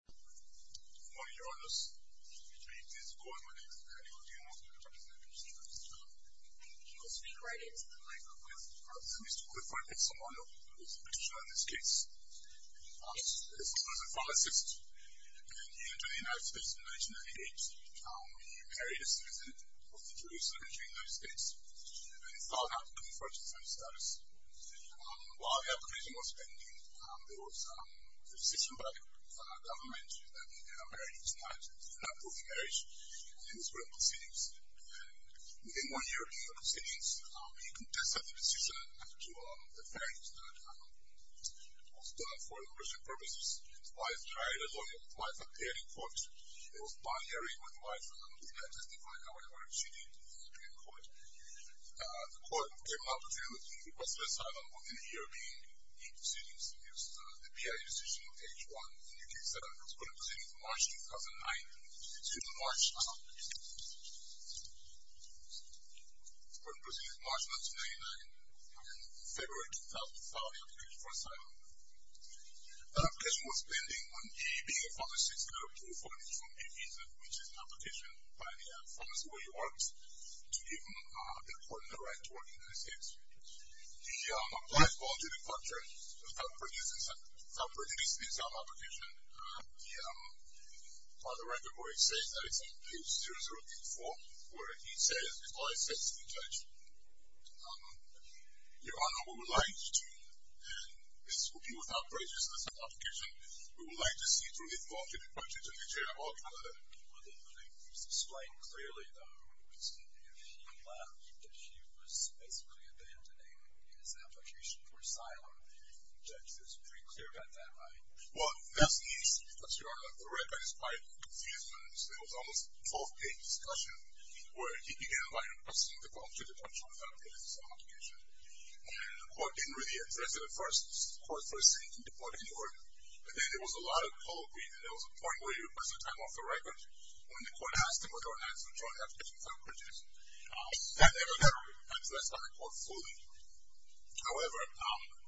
Good morning, Your Honours. My name is Karim Odeon. I'm the Vice-President of the Supreme Court. He will speak right into the microphone. Mr. Clifford Esomonu is a petitioner in this case. Esomonu is a father of six children. He entered the United States in 1998. He married a citizen of the Jewish secondary in the United States, and he filed an application for citizenship status. While the application was pending, there was a decision by the government that he may not approve the marriage, and he was put on proceedings. Within one year of the proceedings, he contested the decision after the fact that it was done for immigration purposes. The wife tried a lawyer. The wife appeared in court. It was binary. The wife did not testify. However, she did appear in court. The court gave an opportunity for suicide within a year of being in proceedings. It was the BIA decision on page 1. The case was put on proceedings March 2009. It was put on proceedings March 1999, and in February 2000, he filed the application for asylum. The application was pending. He, being a father of six children, approved for an informal visa, which is an application by the Foreign Service of the U.S. to give him the right to work in the United States. He applied for alternative culture without prejudice in his own application. By the record, what he says, that it's on page 0084, where he says, his lawyer says to the judge, Your Honor, we would like to, and this will be without prejudice in this application, we would like to see through his alternative culture to make sure that all children are there. He was explained clearly, though, that he was basically abandoning his application for asylum. The judge was pretty clear about that, right? Well, that's easy, Your Honor. The record is quite confusing. It was almost a 12-page discussion where he began by addressing the alternative culture without prejudice in his own application. The court didn't really address it at first. The court first said he deported him, and then there was a lot of colloquy, and there was a point where he replaced the time off the record when the court asked him whether or not he was trying to have kids without prejudice. That never happened, and so that's not a court ruling. However,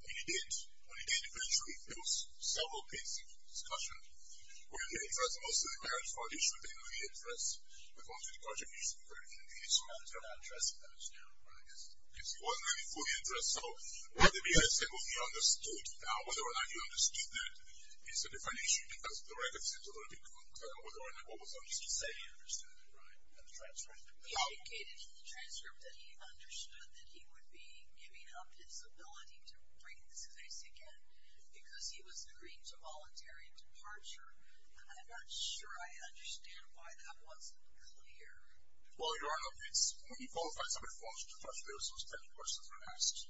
when he did finish, there was several pages of discussion where he addressed mostly marriage, but he shouldn't have been of any interest according to the culture he used to be very engaged in. He wasn't really fully interested. So, whether he understood, whether or not he understood that, is a different issue, because the record seems a little bit confusing, whether or not what was on his case. He indicated in the transcript that he understood that he would be giving up his ability to bring this case again because he was agreeing to voluntary departure. I'm not sure I understand why that wasn't clear. Well, Your Honor, it's... He qualifies under false defense. There were so many questions that were asked.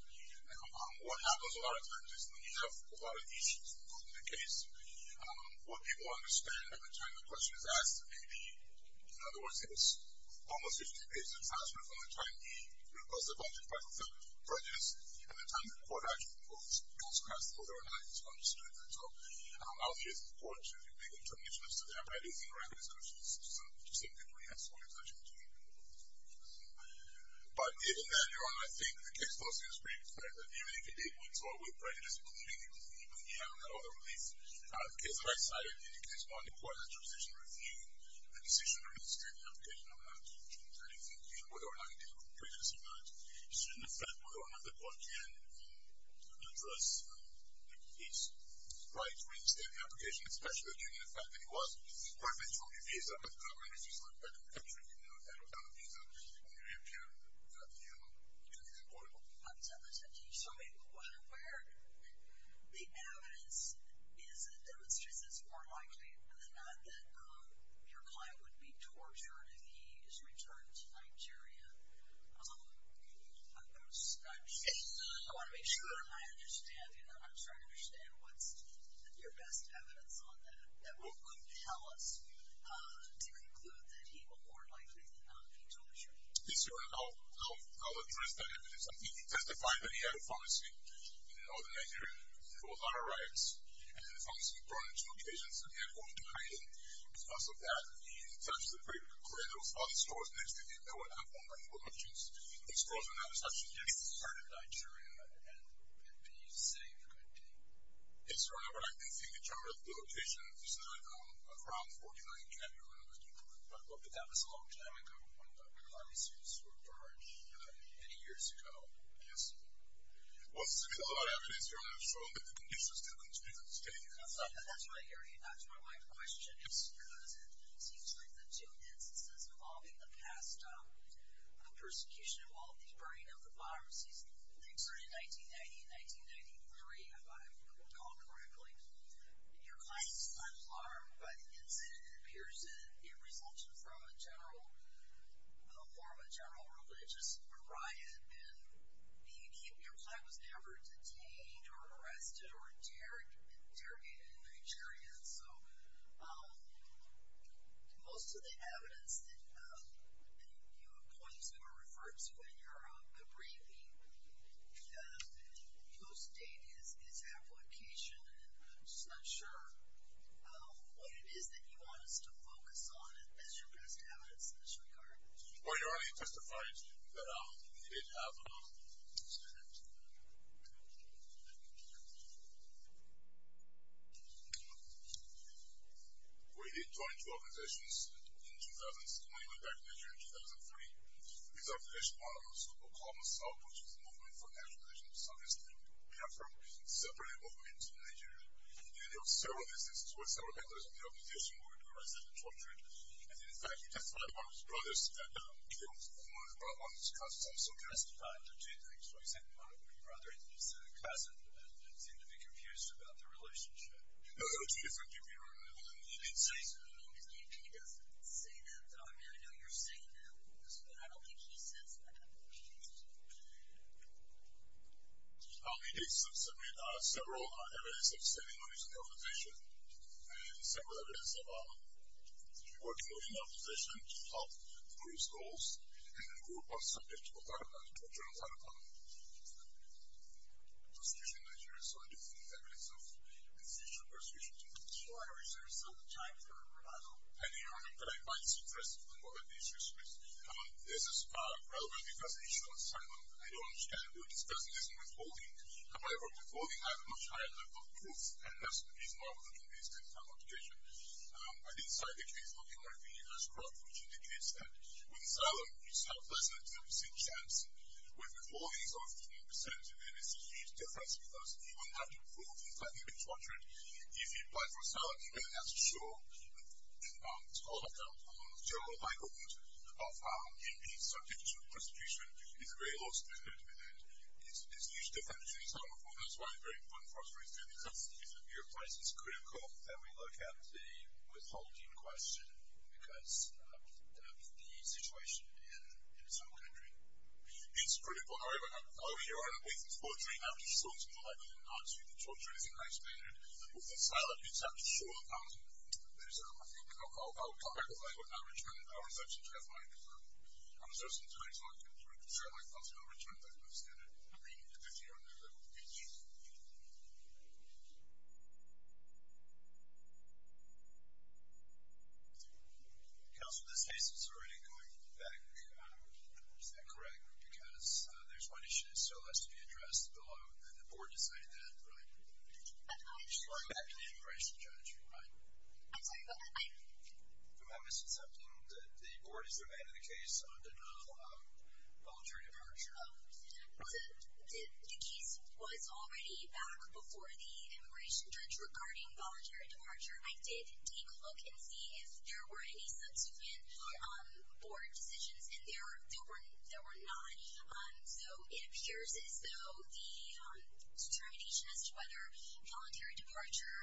What happens a lot of times is when you have a lot of issues, including the case, what people understand every time the question is asked may be... In other words, it was almost 50 pages of discussion from the time he proposed the budget, but with prejudice, and the time the court actually goes across whether or not he's understood that. So, I'll leave it to the court to make a determination as to that, but I do think the record is good. It's just something to re-examine as to what he was actually doing. But even then, Your Honor, I think the case does seem to be fair. Even if he did withdraw with prejudice, including the other release, the case on the right side, I think it's more important that your position review the decision to reinstate the application on October 23rd, 2015, whether or not he did with prejudice or not, should, in effect, whether or not the court can address his right to reinstate the application, especially given the fact that he was perfectly true to his visa and the government refused to let him back in the country even though he had a valid visa, it would appear that the court... So, where the evidence demonstrates it's more likely than not that your client would be tortured if he is returned to Nigeria. Although, I want to make sure that I understand, you know, I'm trying to understand what's your best evidence on that that would compel us to conclude that he will more likely than not return to Nigeria. Yes, Your Honor, I'll address that evidence. He testified that he had a pharmacy in northern Nigeria. It was on a rise, and the pharmacy was brought into location, so they had to go into hiding. Because of that, it's actually pretty clear there was a lot of stores next to him that would have online locations. These stores were not established yet. He returned to Nigeria, and did he say good day? but I can't think in terms of the location. This is, like, around 49th Avenue or something like that. But that was a long time ago when pharmacies were burned, many years ago, I guess. What's the color of the evidence, Your Honor, to show that the condition still continues? That's what I hear. That's what my question is, because it seems like the two instances involving the past persecution of all these burning of the pharmacies that occurred in 1990 and 1993, if I recall correctly, your client is alarmed by the incident and appears in resentment from a general religious riot, and your client was never detained or arrested or interrogated in Nigeria. Most of the evidence that you point to or refer to in your briefing post-date is application, and I'm just not sure what it is that you want us to focus on as your best evidence in this regard. Well, Your Honor, you testified that we did have a... We did join two organizations when we went back to Nigeria in 2003. These organizations are also called Masao, which is the Movement for National Religious Solidarity. We have a separate movement in Nigeria, and there were several instances where several members of the opposition were arrested and tortured, and in fact, you testified one of his brothers killed one of his cousins. I'm so curious about the two things. So you said one of your brothers is a cousin and seemed to be confused about their relationship. No, no, two different people, Your Honor. You didn't say... He doesn't say that. I mean, I know you're saying that, but I don't think he says that. He did submit several evidence of standing on his own accusation and several evidence of working with the opposition to help improve schools and the group was subjected to torture and violence. Persecution in Nigeria is one of the evidence of his future persecution. Your Honor, is there still time for a revisal? one of the issues, please? This is relevant because the issue of asylum, I don't understand why this person isn't withholding. However, withholding has a much higher level of proof and that's the reason why we're looking at this kind of application. I didn't cite the case of Humar V. Ashcroft, which indicates that with asylum, it's not less than a 10% chance with withholding of 15%, and it's a huge difference because even that proof is likely to be tortured. If you apply for asylum, you're going to have to show and it's called a general argument of how being subjected to persecution is a very low standard and it's a huge difference. That's why it's very important for us to review because if your case is critical, then we look at the withholding question because of the situation in some country. It's critical. However, Your Honor, with his poetry, how do you show it's more likely than not to be tortured? As I explained, with asylum, it's up to you. I think I'll clarify. I will not return it. I will not return it. I understand it. Counsel, this case is already going back. Is that correct? Because there's one issue that still has to be addressed below and the board decided that, right? It's already back to the immigration judge, right? I'm sorry, but I... If I'm misaccepting, the board has remained in the case until voluntary departure. The case was already back before the immigration judge regarding voluntary departure. I did take a look and see if there were any subsequent board decisions and there were not. So it appears as though the determination as to whether voluntary departure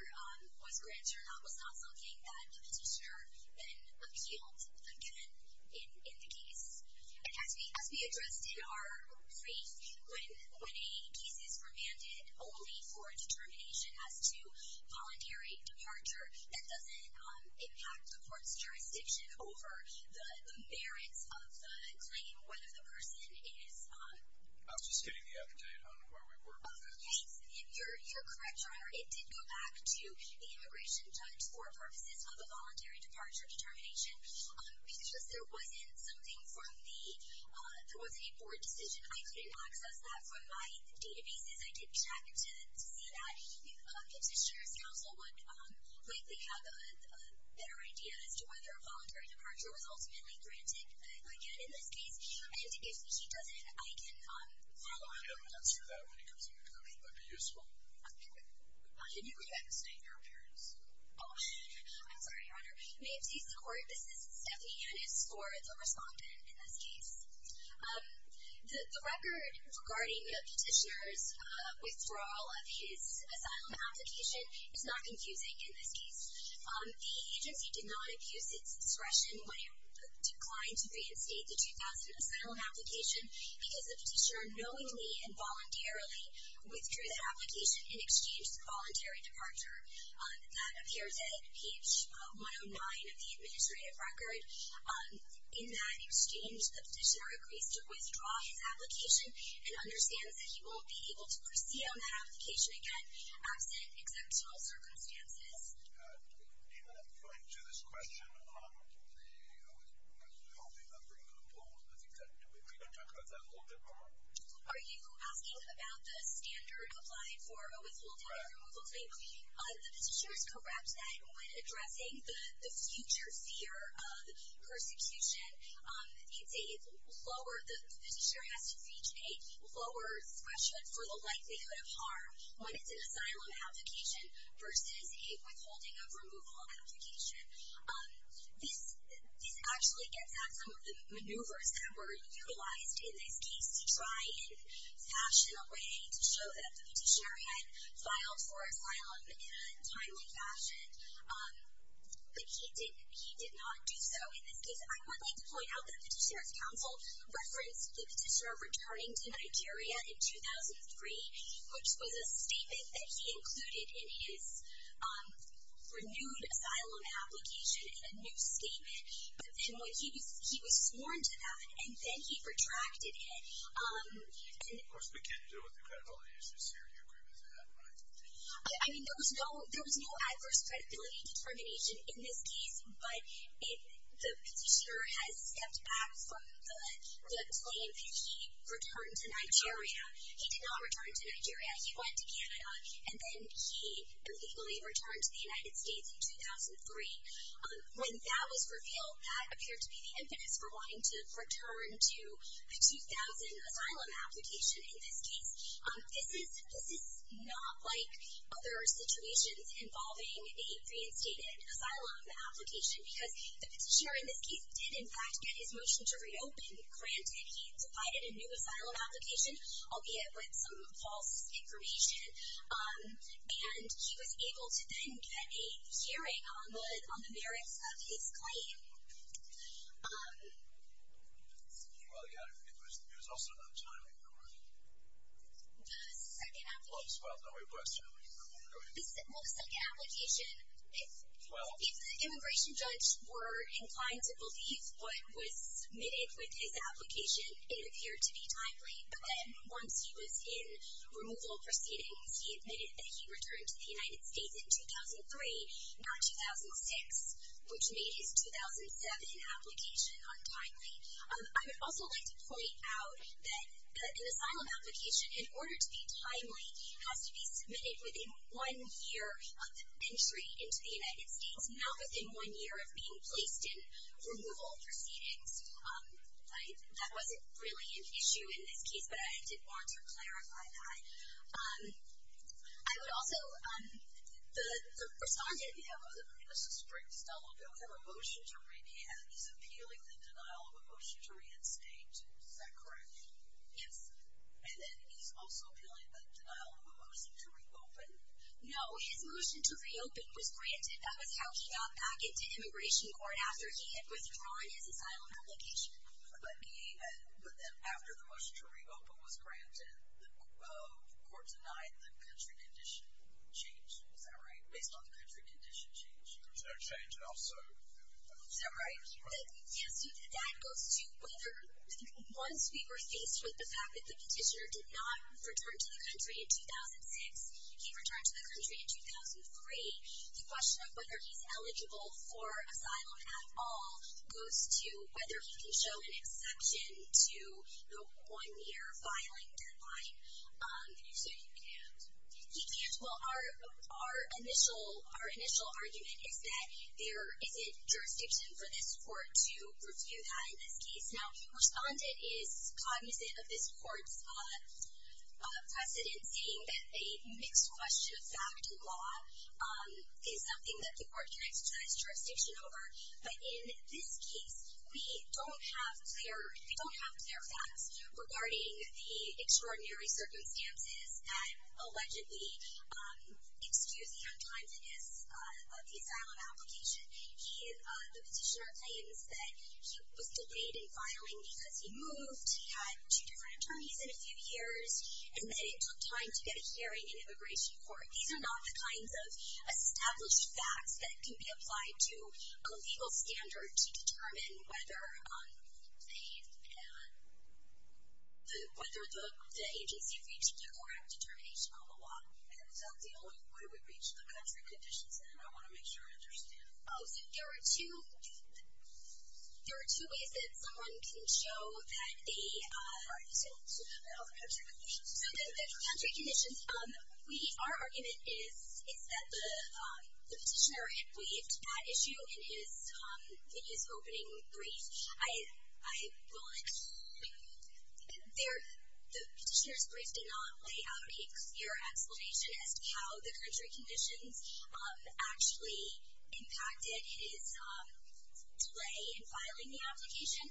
was granted or not was not something that the petitioner then appealed again in the case. As we addressed in our brief, when a case is remanded only for determination as to voluntary departure, that doesn't impact the court's jurisdiction over the merits of the claim, whether the person is... I was just getting the update on where we were with this. You're correct, Your Honor. It did go back to the immigration judge for purposes of a voluntary departure determination. It's just there wasn't something from the... There wasn't a board decision. I couldn't access that from my databases. I did check to see that. The petitioner's counsel would likely have a better idea as to whether voluntary departure was ultimately granted again in this case. And if he doesn't, I can follow up on that. I can answer that when it comes to negotiation. That'd be useful. Can you reinstate your appearance? I'm sorry, Your Honor. May it please the Court, this is Stephanie Yannis for the respondent in this case. The record regarding the petitioner's withdrawal of his asylum application is not confusing in this case. The agency did not abuse its discretion when it declined to reinstate the 2000 asylum application because the petitioner knowingly and voluntarily withdrew that application in exchange for voluntary departure. That appears in page 109 of the administrative record. In that exchange, the petitioner agrees to withdraw his application and understands that he won't be able to proceed on that application again absent exceptional circumstances. Do we have a point to this question on the... Do we have a point to this question? Are you asking about the standard applied for a withholding or removal claim? The petitioner is correct that when addressing the future fear of persecution, it's a lower... The petitioner has to reach a lower threshold for the likelihood of harm when it's an asylum application versus a withholding of removal application. This actually gets at some of the maneuvers that were utilized in this case to try and fashion a way to show that the petitioner had filed for asylum in a timely fashion, but he did not do so in this case. I would like to point out that the petitioner's counsel referenced the petitioner returning to Nigeria in 2003, which was a statement that he included in his renewed asylum application in a new statement. But then he was sworn to that, and then he retracted it. Of course, we can't do it with the credibility issues here. Do you agree with that? I mean, there was no adverse credibility determination in this case, but the petitioner has stepped back from the claim that he returned to Nigeria. He did not return to Nigeria. He went to Canada, and then he illegally returned to the United States in 2003. When that was revealed, that appeared to be the impetus for wanting to return to the 2000 asylum application in this case. This is not like other situations involving a reinstated asylum application, because the petitioner in this case did, in fact, get his motion to reopen granted. He provided a new asylum application, albeit with some false information, and he was able to then get a hearing on the merits of his claim. Well, yeah, it was also not timely, correct? The second application... Well, no, we're questioning. Well, the second application, if the immigration judge were inclined to believe what was submitted with his application, it appeared to be timely, but then once he was in removal proceedings, he admitted that he returned to the United States in 2003, not 2006, which made his 2007 application untimely. I would also like to point out that an asylum application, in order to be timely, has to be submitted within one year of entry into the United States, not within one year of being placed in removal proceedings. That wasn't really an issue in this case, but I did want to clarify that. I would also... The respondent... Yeah, let's just break this down a little bit. We have a motion to re-enact. He's appealing the denial of a motion to reinstate. Is that correct? Yes. And then he's also appealing the denial of a motion to reopen. No, his motion to reopen was granted. That was how he got back into immigration court after he had withdrawn his asylum application. But then after the motion to reopen was granted, the court denied the country condition change. Is that right? Based on the country condition change. There was no change, and also... Is that right? Yes, that goes to whether, once we were faced with the fact that the petitioner did not return to the country in 2006, he returned to the country in 2003, the question of whether he's eligible for asylum at all goes to whether he can show an exception to the one-year filing deadline. And if so, he can't? He can't. Well, our initial argument is that there isn't jurisdiction for this court to review that in this case. Now, the respondent is cognizant of this court's precedent in saying that a mixed-question fact in law is something that the court can exercise jurisdiction over. But in this case, we don't have clear facts regarding the extraordinary circumstances that allegedly excuse the untimeliness of the asylum application. The petitioner claims that he was delayed in filing because he moved, he had two different attorneys in a few years, and that it took time to get a hearing in immigration court. These are not the kinds of established facts that can be applied to a legal standard to determine whether the agency reached the correct determination on the law. And is that the only way we reach the country conditions, and I want to make sure I understand. Oh, so there are two ways that someone can show that the... I'm sorry. So the country conditions, our argument is that the petitioner had waived that issue in his opening brief. The petitioner's brief did not lay out a clear explanation as to how the country conditions actually impacted his delay in filing the application.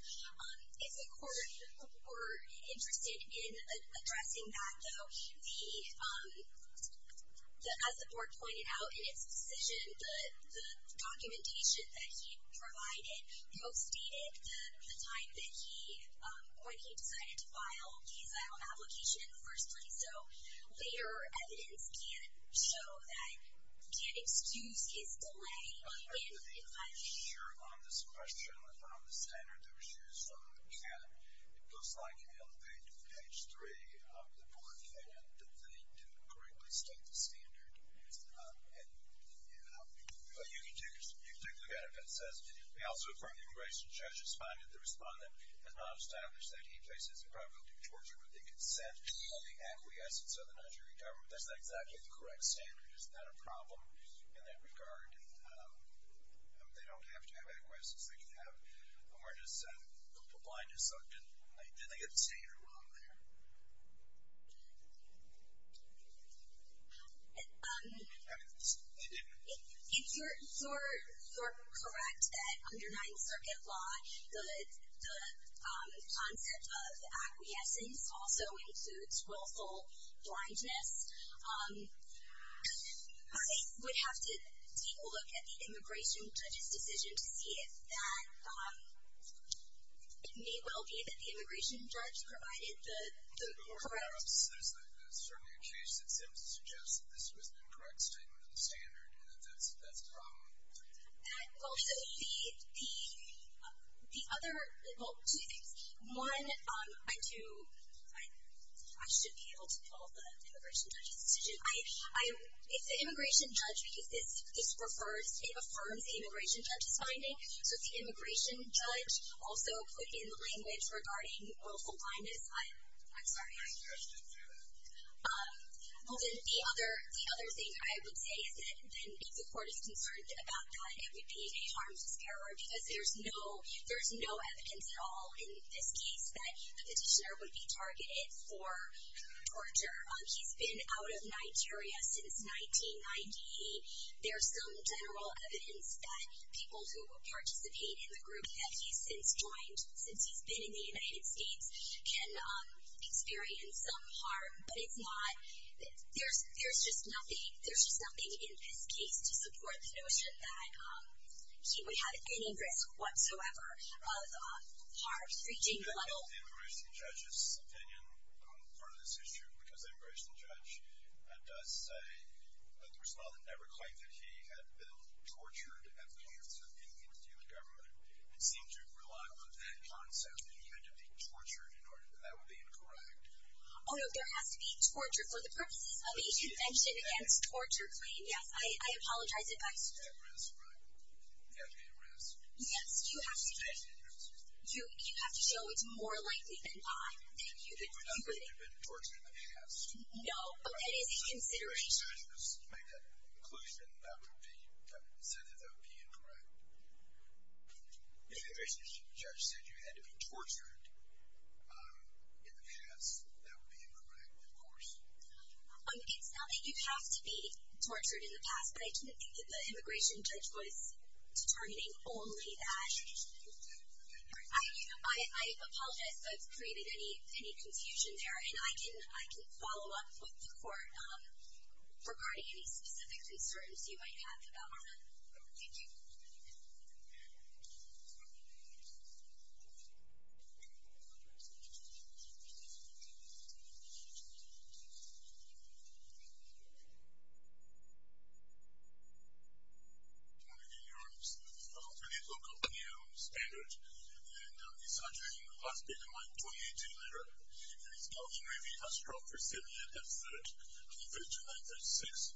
If the court were interested in addressing that, though, as the court pointed out in its decision, the documentation that he provided postdated the time that he, when he decided to file the asylum application in the first place. So later evidence can't show that, can't excuse his delay in filing. I'm not sure on this question on the standard that was used, and it looks like in page 3 of the board plan that they didn't correctly state the standard. But you can take a look at it if it says, we also affirm the immigration judge responded. The respondent has not established that he faces the probability of torture, but the consent of the acquiescence of the Nigerian government, that's not exactly the correct standard. Is that a problem in that regard? They don't have to have acquiescence. They can have, as long as the blind is looked, then they get the standard wrong there. If you're correct that under Ninth Circuit law, the concept of acquiescence also includes willful blindness. I would have to take a look at the immigration judge's decision to see if that, it may well be that the immigration judge provided the correct... There's certainly a case that simply suggests that this was an incorrect statement of the standard, and that that's a problem. Also, the other, well, two things. One, I do, I should be able to tell the immigration judge's decision. If the immigration judge, because this refers, it affirms the immigration judge's finding, so if the immigration judge also put in the language regarding willful blindness, I'm sorry. Well, then the other thing I would say is that if the court is concerned about that, it would be a harmless error, because there's no evidence at all in this case that the petitioner would be targeted for torture. He's been out of Nigeria since 1990. There's some general evidence that people who participate in the group that he's since joined, since he's been in the United States, can experience some harm, but it's not... There's just nothing in this case to support the notion that he would have any risk whatsoever of harm reaching the level... The immigration judge's opinion on part of this issue, because the immigration judge does say that the person on the network claimed that he had been tortured at the hands of an Indian government and seemed to rely on that concept that he had to be tortured in order to... That would be incorrect. Oh, no, there has to be torture for the purposes of a convention against torture claims. Yes, I apologize if I... You have to be at risk, right? You have to be at risk. Yes, you have to... You have to show it's more likely than not that you've been incriminated. It would not be that you've been tortured in the past. No, but that is a consideration. If the immigration judge could make that conclusion, that would be...say that that would be incorrect. If the immigration judge said you had to be tortured in the past, that would be incorrect, of course. It's not that you have to be tortured in the past, but I didn't think that the immigration judge was determining only that. I apologize if I've created any confusion there, and I can follow up with the court regarding any specific concerns you might have about that. Thank you. Good morning, Your Honor. We have a fairly low company standard, and this argument has become my 28-day letter, and it's now in review. It has dropped for seven years, and third, on the 5th of June,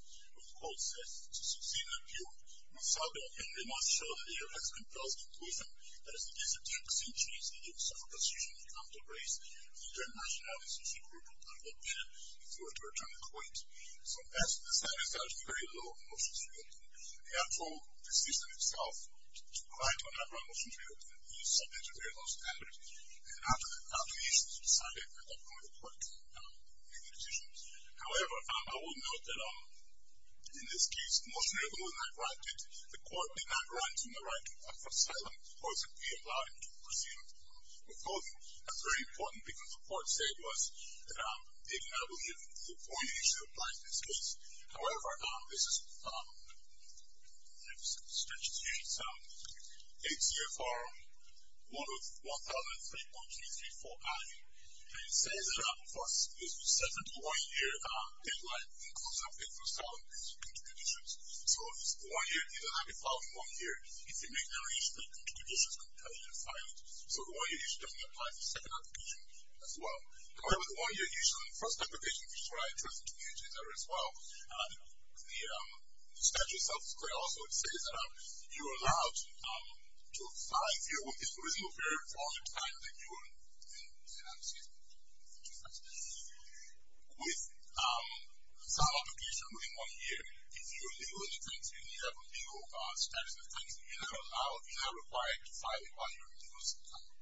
1936, when the court said, to Susanna Pugh, we saw that in the most showly and less composed conclusion that it is a difficult situation that you would suffer persecution if you come to grace the international association group of public opinion before it were termed quaint. So, as to the status, there are very low motions for your opinion. The actual decision itself to grant or not grant motions for your opinion is subject to very low standards, and after the calculations were decided, I don't know whether the court can make the decision. However, I will note that in this case, the motion that was not granted, the court did not grant him the right to offer asylum, or to be allowed to proceed with the court. Of course, that's very important, because the court said to us that they did not believe that the one-year issue applies in this case. However, this is... Let me stretch this here. It's ATFR 103.334-I, and it says that, of course, there's a 7-to-1-year deadline that includes an update for asylum contributions. So, it's the one-year. You don't have to file for one year. If you make no issue, the contributions couldn't tell you to file it. So, the one-year issue doesn't apply to the second application as well. However, the one-year issue, in the first application, you should write your contribution there as well. The statute itself is clear also. It says that you're allowed to file if you're within a reasonable period for all the time that you are in asylum. Excuse me. With some application ruling one year, if you're legal in the country, and you have a legal status in the country, you're not required to file it while you're in legal status.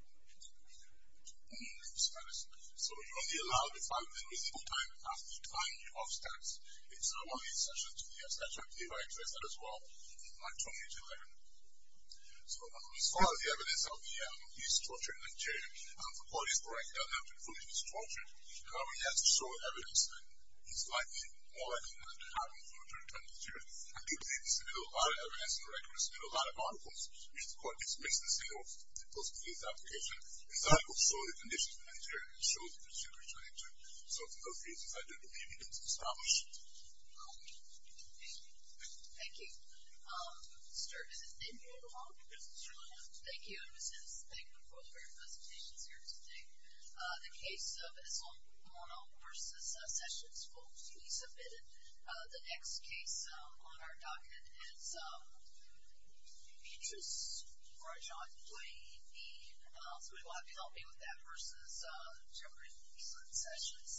So, you're only allowed to file within reasonable time after the time you have status. It's not one of the exceptions to the statute. I believe I expressed that as well in 2011. So, as far as the evidence of his torture in Nigeria, the court is correct. He doesn't have to prove he was tortured. However, he has to show evidence that he's likely more likely than not to have been tortured in Nigeria. I do believe there's still a lot of evidence and records and a lot of articles which the court is missing of those previous applications. And so, I will show the conditions in Nigeria and show the procedure in Nigeria. So, for those reasons, I do believe it is established. Thank you. Thank you. Sir, is it in view of the law? Yes, it's in view of the law. Thank you. Thank you for your presentations here today. The case of Esomono v. Sessions, folks, please submit it. The next case on our docket is Petrus v. Blayne. Somebody will have to help me with that versus Jeffrey v. Sessions.